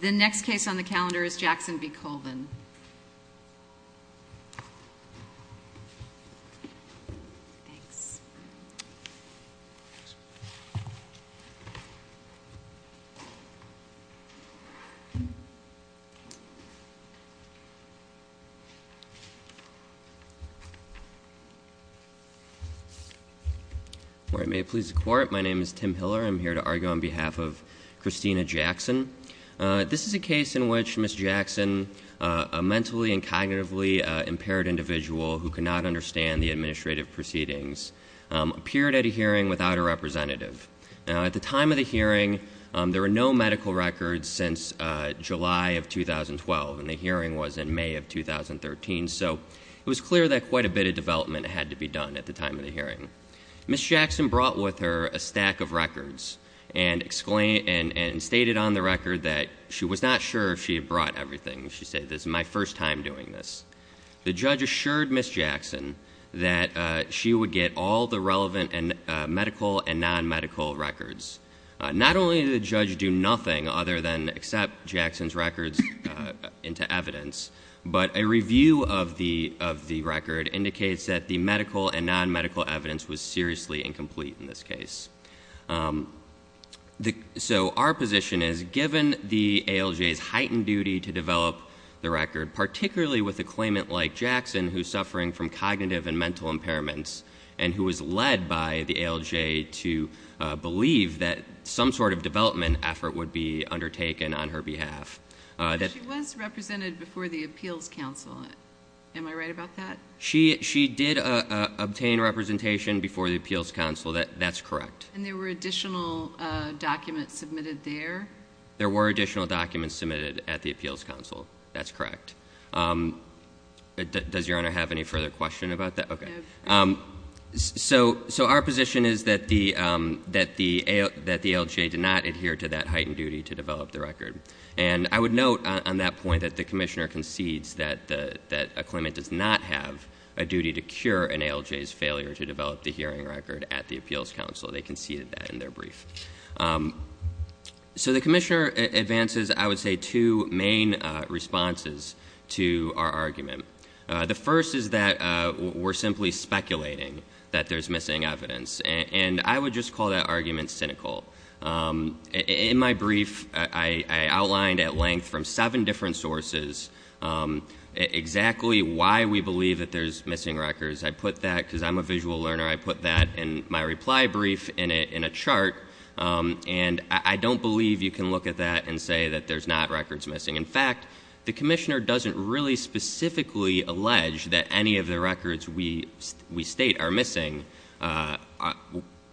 The next case on the calendar is Jackson v. Colvin. Thanks. Thanks. Where it may please the court, my name is Tim Hiller. I'm here to argue on behalf of Christina Jackson. This is a case in which Ms. Jackson, a mentally and cognitively impaired individual who cannot understand the administrative proceedings, appeared at a hearing without a representative. At the time of the hearing, there were no medical records since July of 2012, and the hearing was in May of 2013, so it was clear that quite a bit of development had to be done at the time of the hearing. Ms. Jackson brought with her a stack of records and stated on the record that she was not sure if she had brought everything. She said, this is my first time doing this. The judge assured Ms. Jackson that she would get all the relevant medical and non-medical records. Not only did the judge do nothing other than accept Jackson's records into evidence, but a review of the record indicates that the medical and non-medical evidence was seriously incomplete in this case. So our position is, given the ALJ's heightened duty to develop the record, particularly with a claimant like Jackson who's suffering from cognitive and mental impairments and who was led by the ALJ to believe that some sort of development effort would be undertaken on her behalf. She was represented before the Appeals Council. Am I right about that? She did obtain representation before the Appeals Council. That's correct. And there were additional documents submitted there? There were additional documents submitted at the Appeals Council. That's correct. Does Your Honor have any further question about that? No. So our position is that the ALJ did not adhere to that heightened duty to develop the record. And I would note on that point that the commissioner concedes that a claimant does not have a duty to cure an ALJ's failure to develop the hearing record at the Appeals Council. They conceded that in their brief. So the commissioner advances, I would say, two main responses to our argument. The first is that we're simply speculating that there's missing evidence. And I would just call that argument cynical. In my brief, I outlined at length from seven different sources exactly why we believe that there's missing records. I put that, because I'm a visual learner, I put that in my reply brief in a chart. And I don't believe you can look at that and say that there's not records missing. In fact, the commissioner doesn't really specifically allege that any of the records we state are missing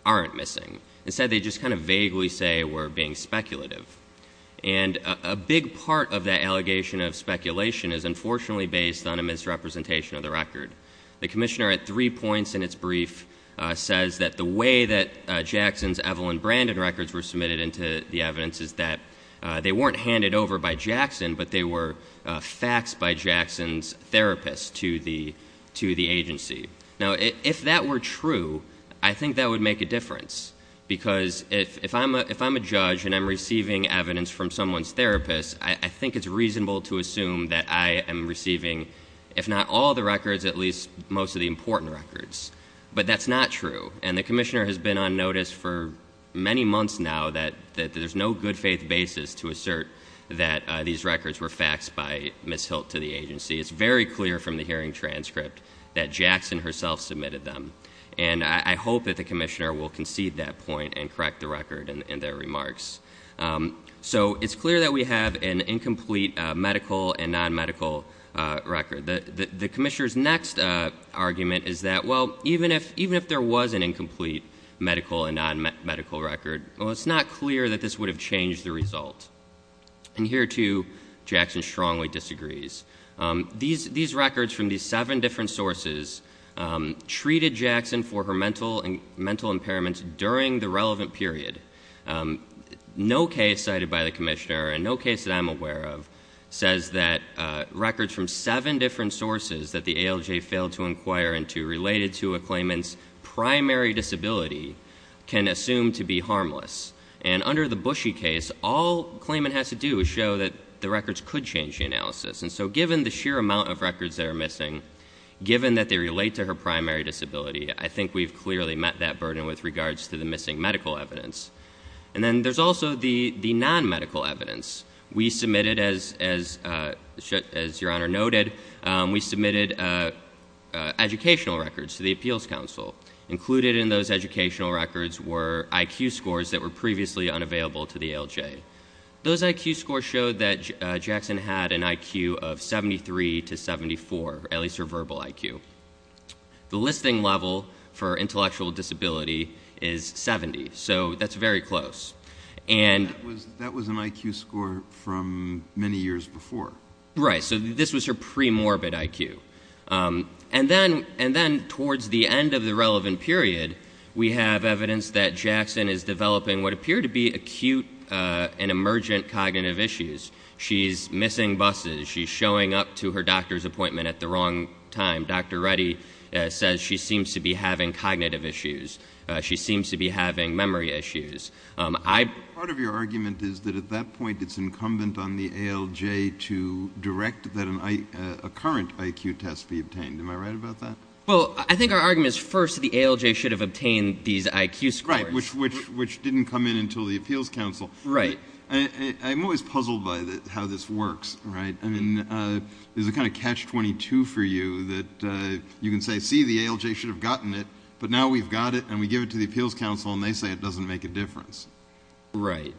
aren't missing. Instead, they just kind of vaguely say we're being speculative. And a big part of that allegation of speculation is unfortunately based on a misrepresentation of the record. The commissioner at three points in its brief says that the way that Jackson's Evelyn Brandon records were submitted into the evidence is that they weren't handed over by Jackson, but they were faxed by Jackson's therapist to the agency. Now, if that were true, I think that would make a difference. Because if I'm a judge and I'm receiving evidence from someone's therapist, I think it's reasonable to assume that I am receiving, if not all the records, at least most of the important records. But that's not true. And the commissioner has been on notice for many months now that there's no good faith basis to assert that these records were faxed by Ms. Hilt to the agency. It's very clear from the hearing transcript that Jackson herself submitted them. And I hope that the commissioner will concede that point and correct the record in their remarks. So it's clear that we have an incomplete medical and non-medical record. The commissioner's next argument is that, well, even if there was an incomplete medical and non-medical record, well, it's not clear that this would have changed the result. And here, too, Jackson strongly disagrees. These records from these seven different sources treated Jackson for her mental impairments during the relevant period. No case cited by the commissioner, and no case that I'm aware of, says that records from seven different sources that the ALJ failed to inquire into, related to a claimant's primary disability, can assume to be harmless. And under the Bushy case, all claimant has to do is show that the records could change the analysis. And so given the sheer amount of records that are missing, given that they relate to her primary disability, I think we've clearly met that burden with regards to the missing medical evidence. And then there's also the non-medical evidence. We submitted, as Your Honor noted, we submitted educational records to the Appeals Council. Included in those educational records were IQ scores that were previously unavailable to the ALJ. Those IQ scores showed that Jackson had an IQ of 73 to 74, at least her verbal IQ. The listing level for intellectual disability is 70, so that's very close. That was an IQ score from many years before. Right, so this was her premorbid IQ. And then towards the end of the relevant period, we have evidence that Jackson is developing what appear to be acute and emergent cognitive issues. She's missing buses. She's showing up to her doctor's appointment at the wrong time. Dr. Reddy says she seems to be having cognitive issues. She seems to be having memory issues. Part of your argument is that at that point it's incumbent on the ALJ to direct that a current IQ test be obtained. Am I right about that? Well, I think our argument is first the ALJ should have obtained these IQ scores. Right, which didn't come in until the Appeals Council. Right. I'm always puzzled by how this works, right? I mean, there's a kind of catch-22 for you that you can say, see, the ALJ should have gotten it, but now we've got it and we give it to the Appeals Council and they say it doesn't make a difference. Right.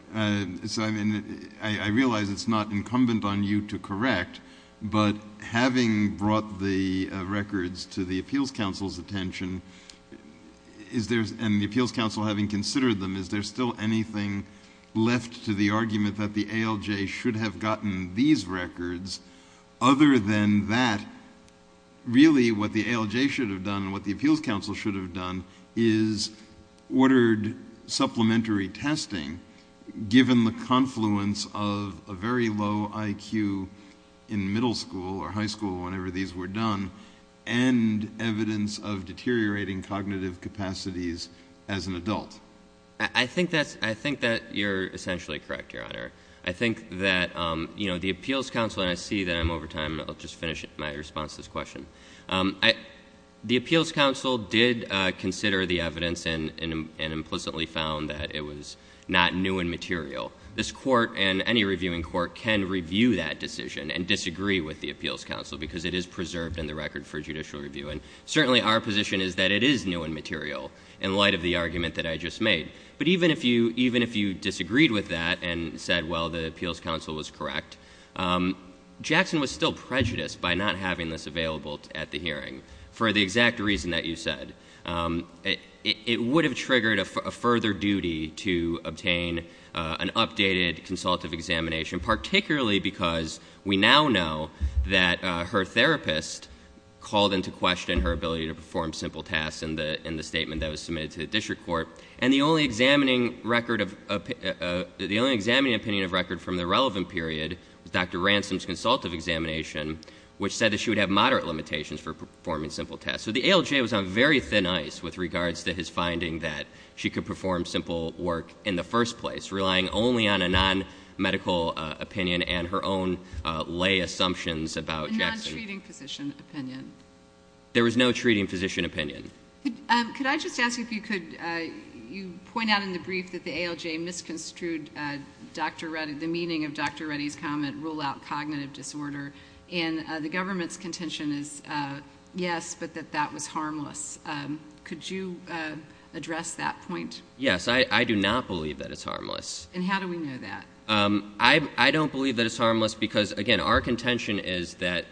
So, I mean, I realize it's not incumbent on you to correct, but having brought the records to the Appeals Council's attention and the Appeals Council having considered them, is there still anything left to the argument that the ALJ should have gotten these records? Other than that, really what the ALJ should have done and what the Appeals Council should have done is ordered supplementary testing given the confluence of a very low IQ in middle school or high school, whenever these were done, and evidence of deteriorating cognitive capacities as an adult. I think that you're essentially correct, Your Honor. I think that, you know, the Appeals Council, and I see that I'm over time. I'll just finish my response to this question. The Appeals Council did consider the evidence and implicitly found that it was not new and material. This court and any reviewing court can review that decision and disagree with the Appeals Council because it is preserved in the record for judicial review. And certainly our position is that it is new and material in light of the argument that I just made. But even if you disagreed with that and said, well, the Appeals Council was correct, Jackson was still prejudiced by not having this available at the hearing for the exact reason that you said. It would have triggered a further duty to obtain an updated consultative examination, particularly because we now know that her therapist called into question her ability to perform simple tasks in the statement that was submitted to the district court. And the only examining opinion of record from the relevant period was Dr. Ransom's consultative examination, which said that she would have moderate limitations for performing simple tasks. So the ALJ was on very thin ice with regards to his finding that she could perform simple work in the first place, relying only on a non-medical opinion and her own lay assumptions about Jackson. A non-treating physician opinion. There was no treating physician opinion. Could I just ask if you could point out in the brief that the ALJ misconstrued the meaning of Dr. Reddy's comment, rule out cognitive disorder, and the government's contention is yes, but that that was harmless. Could you address that point? Yes. I do not believe that it's harmless. And how do we know that? I don't believe that it's harmless because, again, our contention is that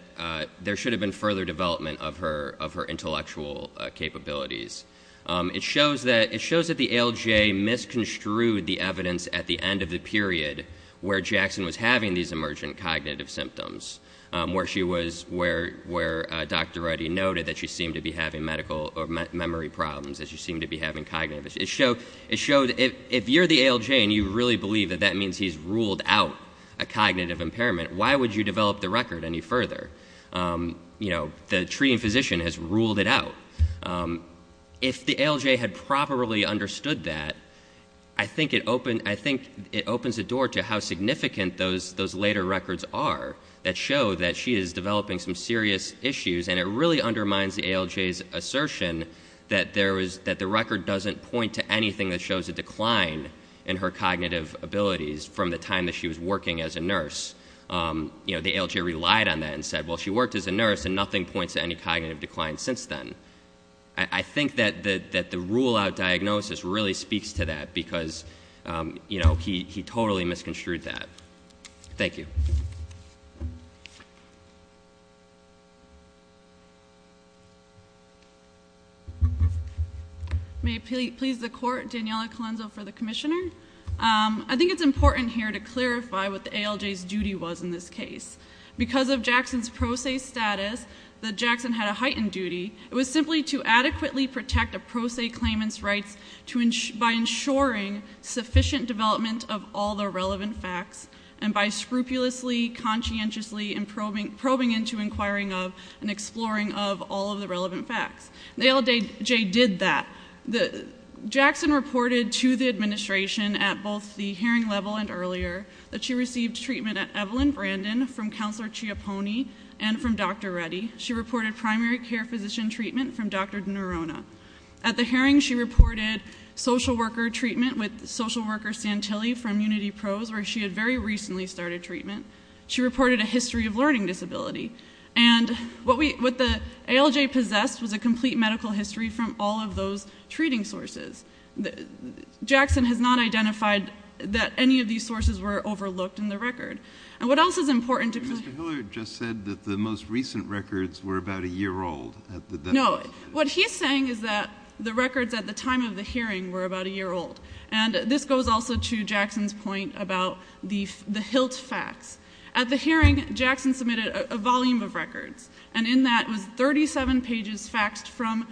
there should have been further development of her intellectual capabilities. It shows that the ALJ misconstrued the evidence at the end of the period where Jackson was having these emergent cognitive symptoms, where Dr. Reddy noted that she seemed to be having medical or memory problems, that she seemed to be having cognitive issues. If you're the ALJ and you really believe that that means he's ruled out a cognitive impairment, why would you develop the record any further? The treating physician has ruled it out. If the ALJ had properly understood that, I think it opens the door to how significant those later records are that show that she is developing some serious issues, and it really undermines the ALJ's assertion that the record doesn't point to anything that shows a decline in her cognitive abilities from the time that she was working as a nurse. The ALJ relied on that and said, well, she worked as a nurse, and nothing points to any cognitive decline since then. I think that the rule-out diagnosis really speaks to that because he totally misconstrued that. Thank you. May it please the Court, Daniella Colenso for the Commissioner. I think it's important here to clarify what the ALJ's duty was in this case. Because of Jackson's pro se status, that Jackson had a heightened duty, it was simply to adequately protect a pro se claimant's rights by ensuring sufficient development of all the relevant facts and by scrupulously, conscientiously probing into, inquiring of, and exploring of all of the relevant facts. The ALJ did that. Jackson reported to the administration at both the hearing level and earlier that she received treatment at Evelyn Brandon from Counselor Chiapone and from Dr. Reddy. She reported primary care physician treatment from Dr. Nerona. At the hearing, she reported social worker treatment with social worker Santilli from Unity Pros, where she had very recently started treatment. She reported a history of learning disability. And what the ALJ possessed was a complete medical history from all of those treating sources. Jackson has not identified that any of these sources were overlooked in the record. And what else is important to... Mr. Hilliard just said that the most recent records were about a year old. No. What he's saying is that the records at the time of the hearing were about a year old. And this goes also to Jackson's point about the HILT facts. At the hearing, Jackson submitted a volume of records, and in that was 37 pages faxed from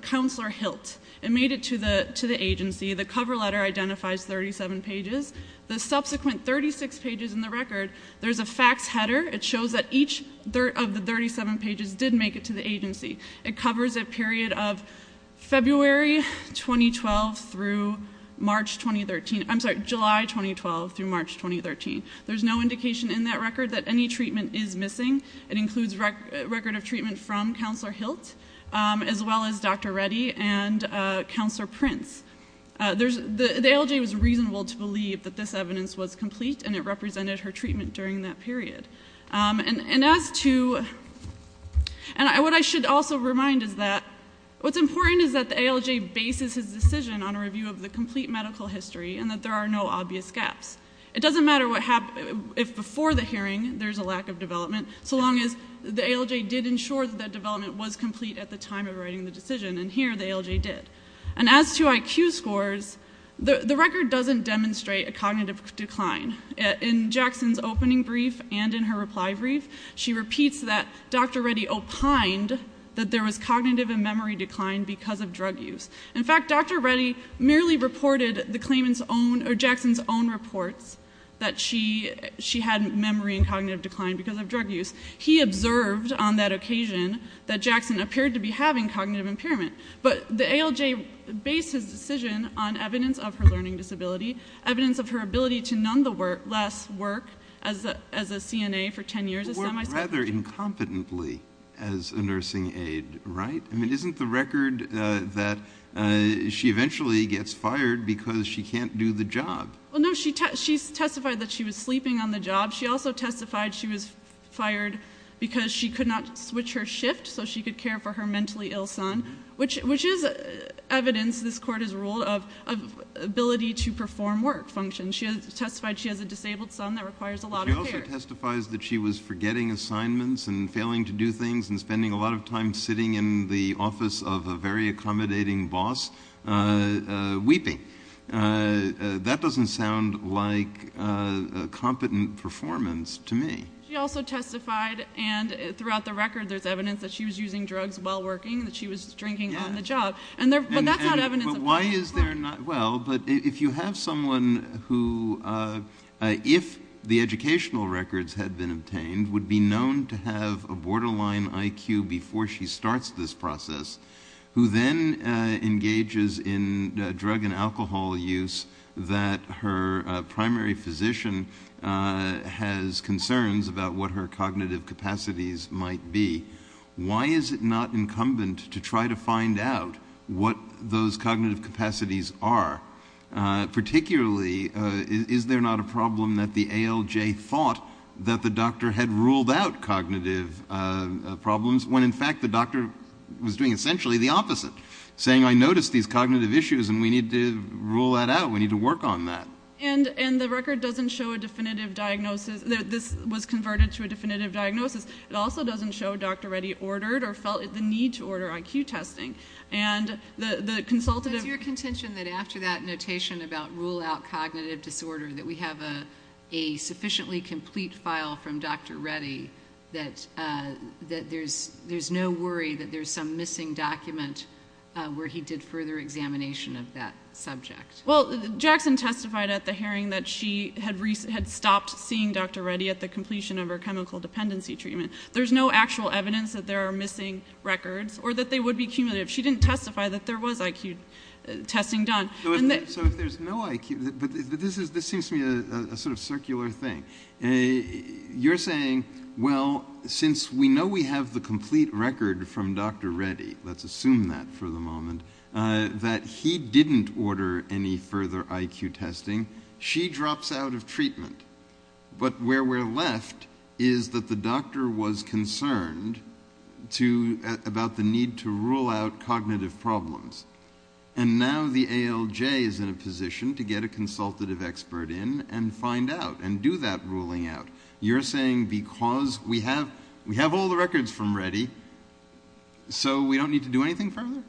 Counselor HILT. It made it to the agency. The cover letter identifies 37 pages. The subsequent 36 pages in the record, there's a facts header. It shows that each of the 37 pages did make it to the agency. It covers a period of February 2012 through March 2013. I'm sorry, July 2012 through March 2013. There's no indication in that record that any treatment is missing. It includes a record of treatment from Counselor HILT, as well as Dr. Reddy and Counselor Prince. The ALJ was reasonable to believe that this evidence was complete, and it represented her treatment during that period. And what I should also remind is that what's important is that the ALJ bases his decision on a review of the complete medical history and that there are no obvious gaps. It doesn't matter if before the hearing there's a lack of development, so long as the ALJ did ensure that that development was complete at the time of writing the decision, and here the ALJ did. And as to IQ scores, the record doesn't demonstrate a cognitive decline. In Jackson's opening brief and in her reply brief, she repeats that Dr. Reddy opined that there was cognitive and memory decline because of drug use. In fact, Dr. Reddy merely reported Jackson's own reports that she had memory and cognitive decline because of drug use. He observed on that occasion that Jackson appeared to be having cognitive impairment. But the ALJ bases his decision on evidence of her learning disability, evidence of her ability to nonetheless work as a CNA for 10 years. She worked rather incompetently as a nursing aide, right? I mean, isn't the record that she eventually gets fired because she can't do the job? Well, no, she testified that she was sleeping on the job. She also testified she was fired because she could not switch her shift so she could care for her mentally ill son, which is evidence, this court has ruled, of ability to perform work functions. She testified she has a disabled son that requires a lot of care. She also testifies that she was forgetting assignments and failing to do things and spending a lot of time sitting in the office of a very accommodating boss weeping. That doesn't sound like a competent performance to me. She also testified, and throughout the record there's evidence, that she was using drugs while working, that she was drinking on the job. But that's not evidence. Why is there not? Well, but if you have someone who, if the educational records had been obtained, would be known to have a borderline IQ before she starts this process, who then engages in drug and alcohol use that her primary physician has concerns about what her cognitive capacities might be, why is it not incumbent to try to find out what those cognitive capacities are? Particularly, is there not a problem that the ALJ thought that the doctor had ruled out cognitive problems when in fact the doctor was doing essentially the opposite, saying I noticed these cognitive issues and we need to rule that out, we need to work on that. And the record doesn't show a definitive diagnosis, this was converted to a definitive diagnosis. It also doesn't show a doctor already ordered or felt the need to order IQ testing. What's your contention that after that notation about rule out cognitive disorder, that we have a sufficiently complete file from Dr. Reddy, that there's no worry that there's some missing document where he did further examination of that subject? Well, Jackson testified at the hearing that she had stopped seeing Dr. Reddy at the completion of her chemical dependency treatment. There's no actual evidence that there are missing records or that they would be cumulative. She didn't testify that there was IQ testing done. So if there's no IQ, but this seems to me a sort of circular thing. You're saying, well, since we know we have the complete record from Dr. Reddy, let's assume that for the moment, that he didn't order any further IQ testing, she drops out of treatment. But where we're left is that the doctor was concerned about the need to rule out cognitive problems. And now the ALJ is in a position to get a consultative expert in and find out and do that ruling out. You're saying because we have all the records from Reddy, so we don't need to do anything further?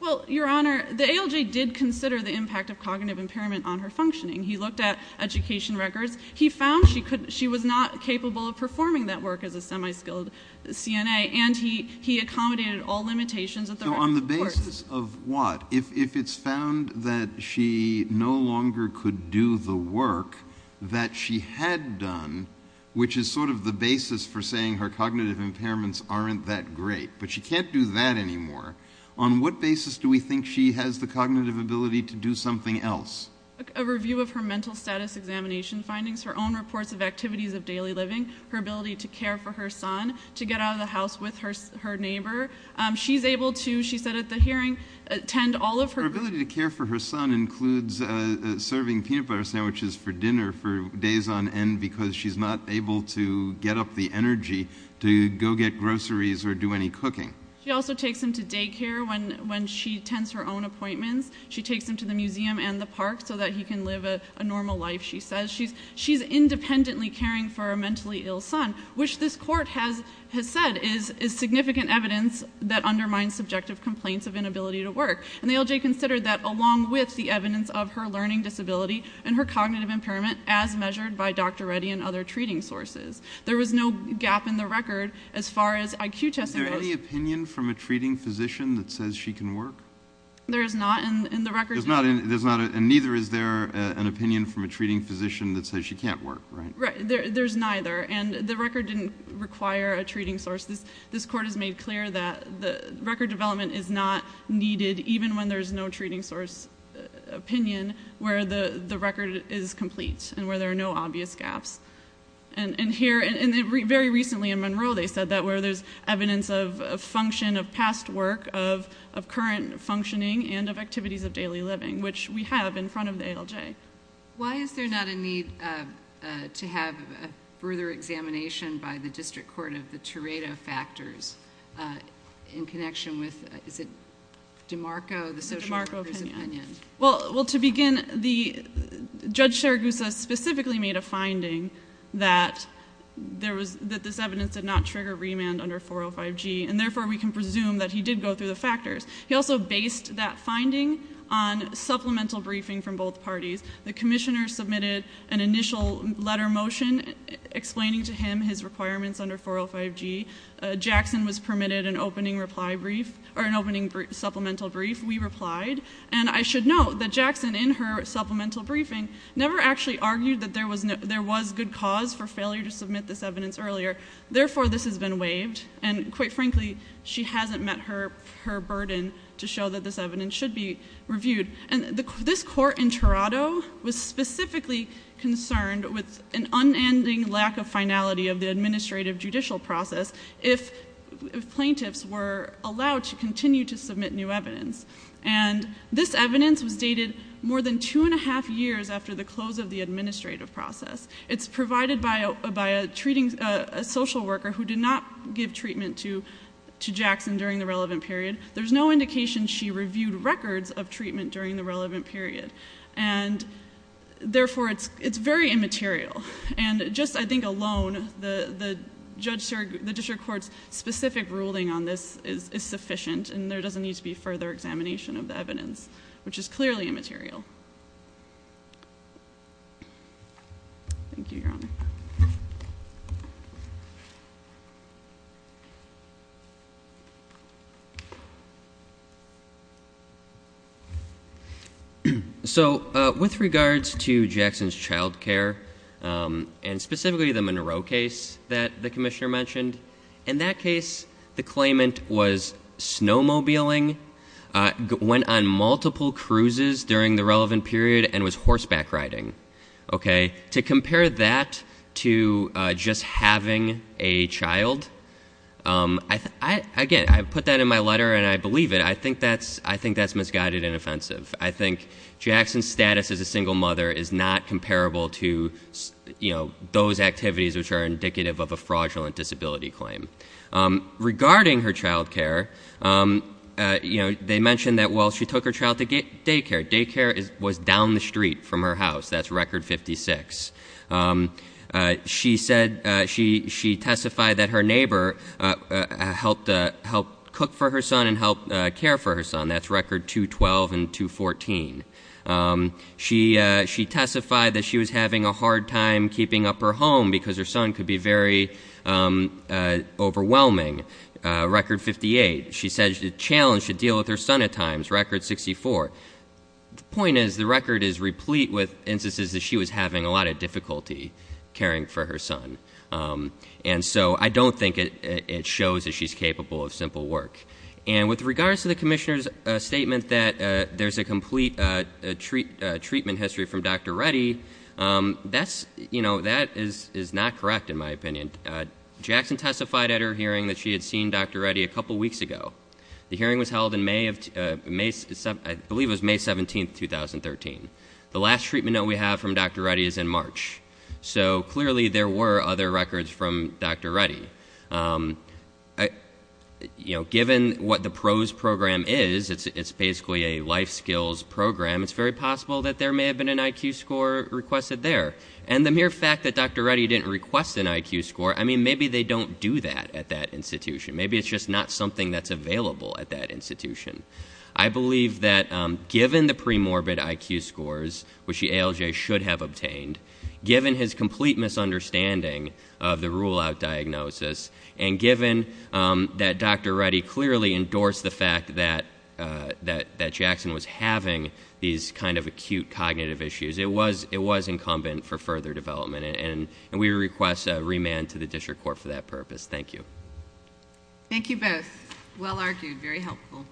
Well, Your Honor, the ALJ did consider the impact of cognitive impairment on her functioning. He looked at education records. He found she was not capable of performing that work as a semi-skilled CNA, and he accommodated all limitations of the records. So on the basis of what? If it's found that she no longer could do the work that she had done, which is sort of the basis for saying her cognitive impairments aren't that great, but she can't do that anymore, on what basis do we think she has the cognitive ability to do something else? A review of her mental status examination findings, her own reports of activities of daily living, her ability to care for her son, to get out of the house with her neighbor. She's able to, she said at the hearing, attend all of her groups. Her ability to care for her son includes serving peanut butter sandwiches for dinner for days on end because she's not able to get up the energy to go get groceries or do any cooking. She also takes him to daycare when she tends her own appointments. She takes him to the museum and the park so that he can live a normal life, she says. She's independently caring for a mentally ill son, which this court has said is significant evidence that undermines subjective complaints of inability to work. And the ALJ considered that along with the evidence of her learning disability and her cognitive impairment as measured by Dr. Reddy and other treating sources. There was no gap in the record as far as IQ testing goes. Is there any opinion from a treating physician that says she can work? There is not in the records. And neither is there an opinion from a treating physician that says she can't work, right? There's neither, and the record didn't require a treating source. This court has made clear that the record development is not needed even when there's no treating source opinion where the record is complete and where there are no obvious gaps. And very recently in Monroe they said that where there's evidence of function of past work, of current functioning, and of activities of daily living, which we have in front of the ALJ. Why is there not a need to have further examination by the District Court of the Tiredo factors in connection with, is it DeMarco, the social worker's opinion? Well, to begin, Judge Saragusa specifically made a finding that this evidence did not trigger remand under 405G, and therefore we can presume that he did go through the factors. He also based that finding on supplemental briefing from both parties. The commissioner submitted an initial letter motion explaining to him his requirements under 405G. Jackson was permitted an opening supplemental brief. We replied, and I should note that Jackson in her supplemental briefing never actually argued that there was good cause for failure to submit this evidence earlier. Therefore, this has been waived, and quite frankly, she hasn't met her burden to show that this evidence should be reviewed. And this court in Tiredo was specifically concerned with an unending lack of finality of the administrative judicial process if plaintiffs were allowed to continue to submit new evidence. And this evidence was dated more than two and a half years after the close of the administrative process. It's provided by a social worker who did not give treatment to Jackson during the relevant period. There's no indication she reviewed records of treatment during the relevant period. And therefore, it's very immaterial. And just, I think, alone, the district court's specific ruling on this is sufficient, and there doesn't need to be further examination of the evidence, which is clearly immaterial. Thank you, Your Honor. Thank you. So with regards to Jackson's child care, and specifically the Monroe case that the commissioner mentioned, in that case, the claimant was snowmobiling, went on multiple cruises during the relevant period, and was horseback riding. To compare that to just having a child, again, I put that in my letter and I believe it. I think that's misguided and offensive. I think Jackson's status as a single mother is not comparable to those activities which are indicative of a fraudulent disability claim. Regarding her child care, they mentioned that, well, she took her child to daycare. Daycare was down the street from her house. That's record 56. She testified that her neighbor helped cook for her son and helped care for her son. That's record 212 and 214. She testified that she was having a hard time keeping up her home because her son could be very overwhelming. Record 58. She said she was challenged to deal with her son at times. Record 64. The point is the record is replete with instances that she was having a lot of difficulty caring for her son. And so I don't think it shows that she's capable of simple work. And with regards to the commissioner's statement that there's a complete treatment history from Dr. Reddy, that is not correct in my opinion. Jackson testified at her hearing that she had seen Dr. Reddy a couple weeks ago. The hearing was held in May of, I believe it was May 17th, 2013. The last treatment that we have from Dr. Reddy is in March. So clearly there were other records from Dr. Reddy. Given what the PROSE program is, it's basically a life skills program. It's very possible that there may have been an IQ score requested there. And the mere fact that Dr. Reddy didn't request an IQ score, I mean, maybe they don't do that at that institution. Maybe it's just not something that's available at that institution. I believe that given the pre-morbid IQ scores, which the ALJ should have obtained, given his complete misunderstanding of the rule out diagnosis, and given that Dr. Reddy clearly endorsed the fact that Jackson was having these kind of acute cognitive issues. It was incumbent for further development, and we request a remand to the district court for that purpose. Thank you. Thank you both. Well argued, very helpful.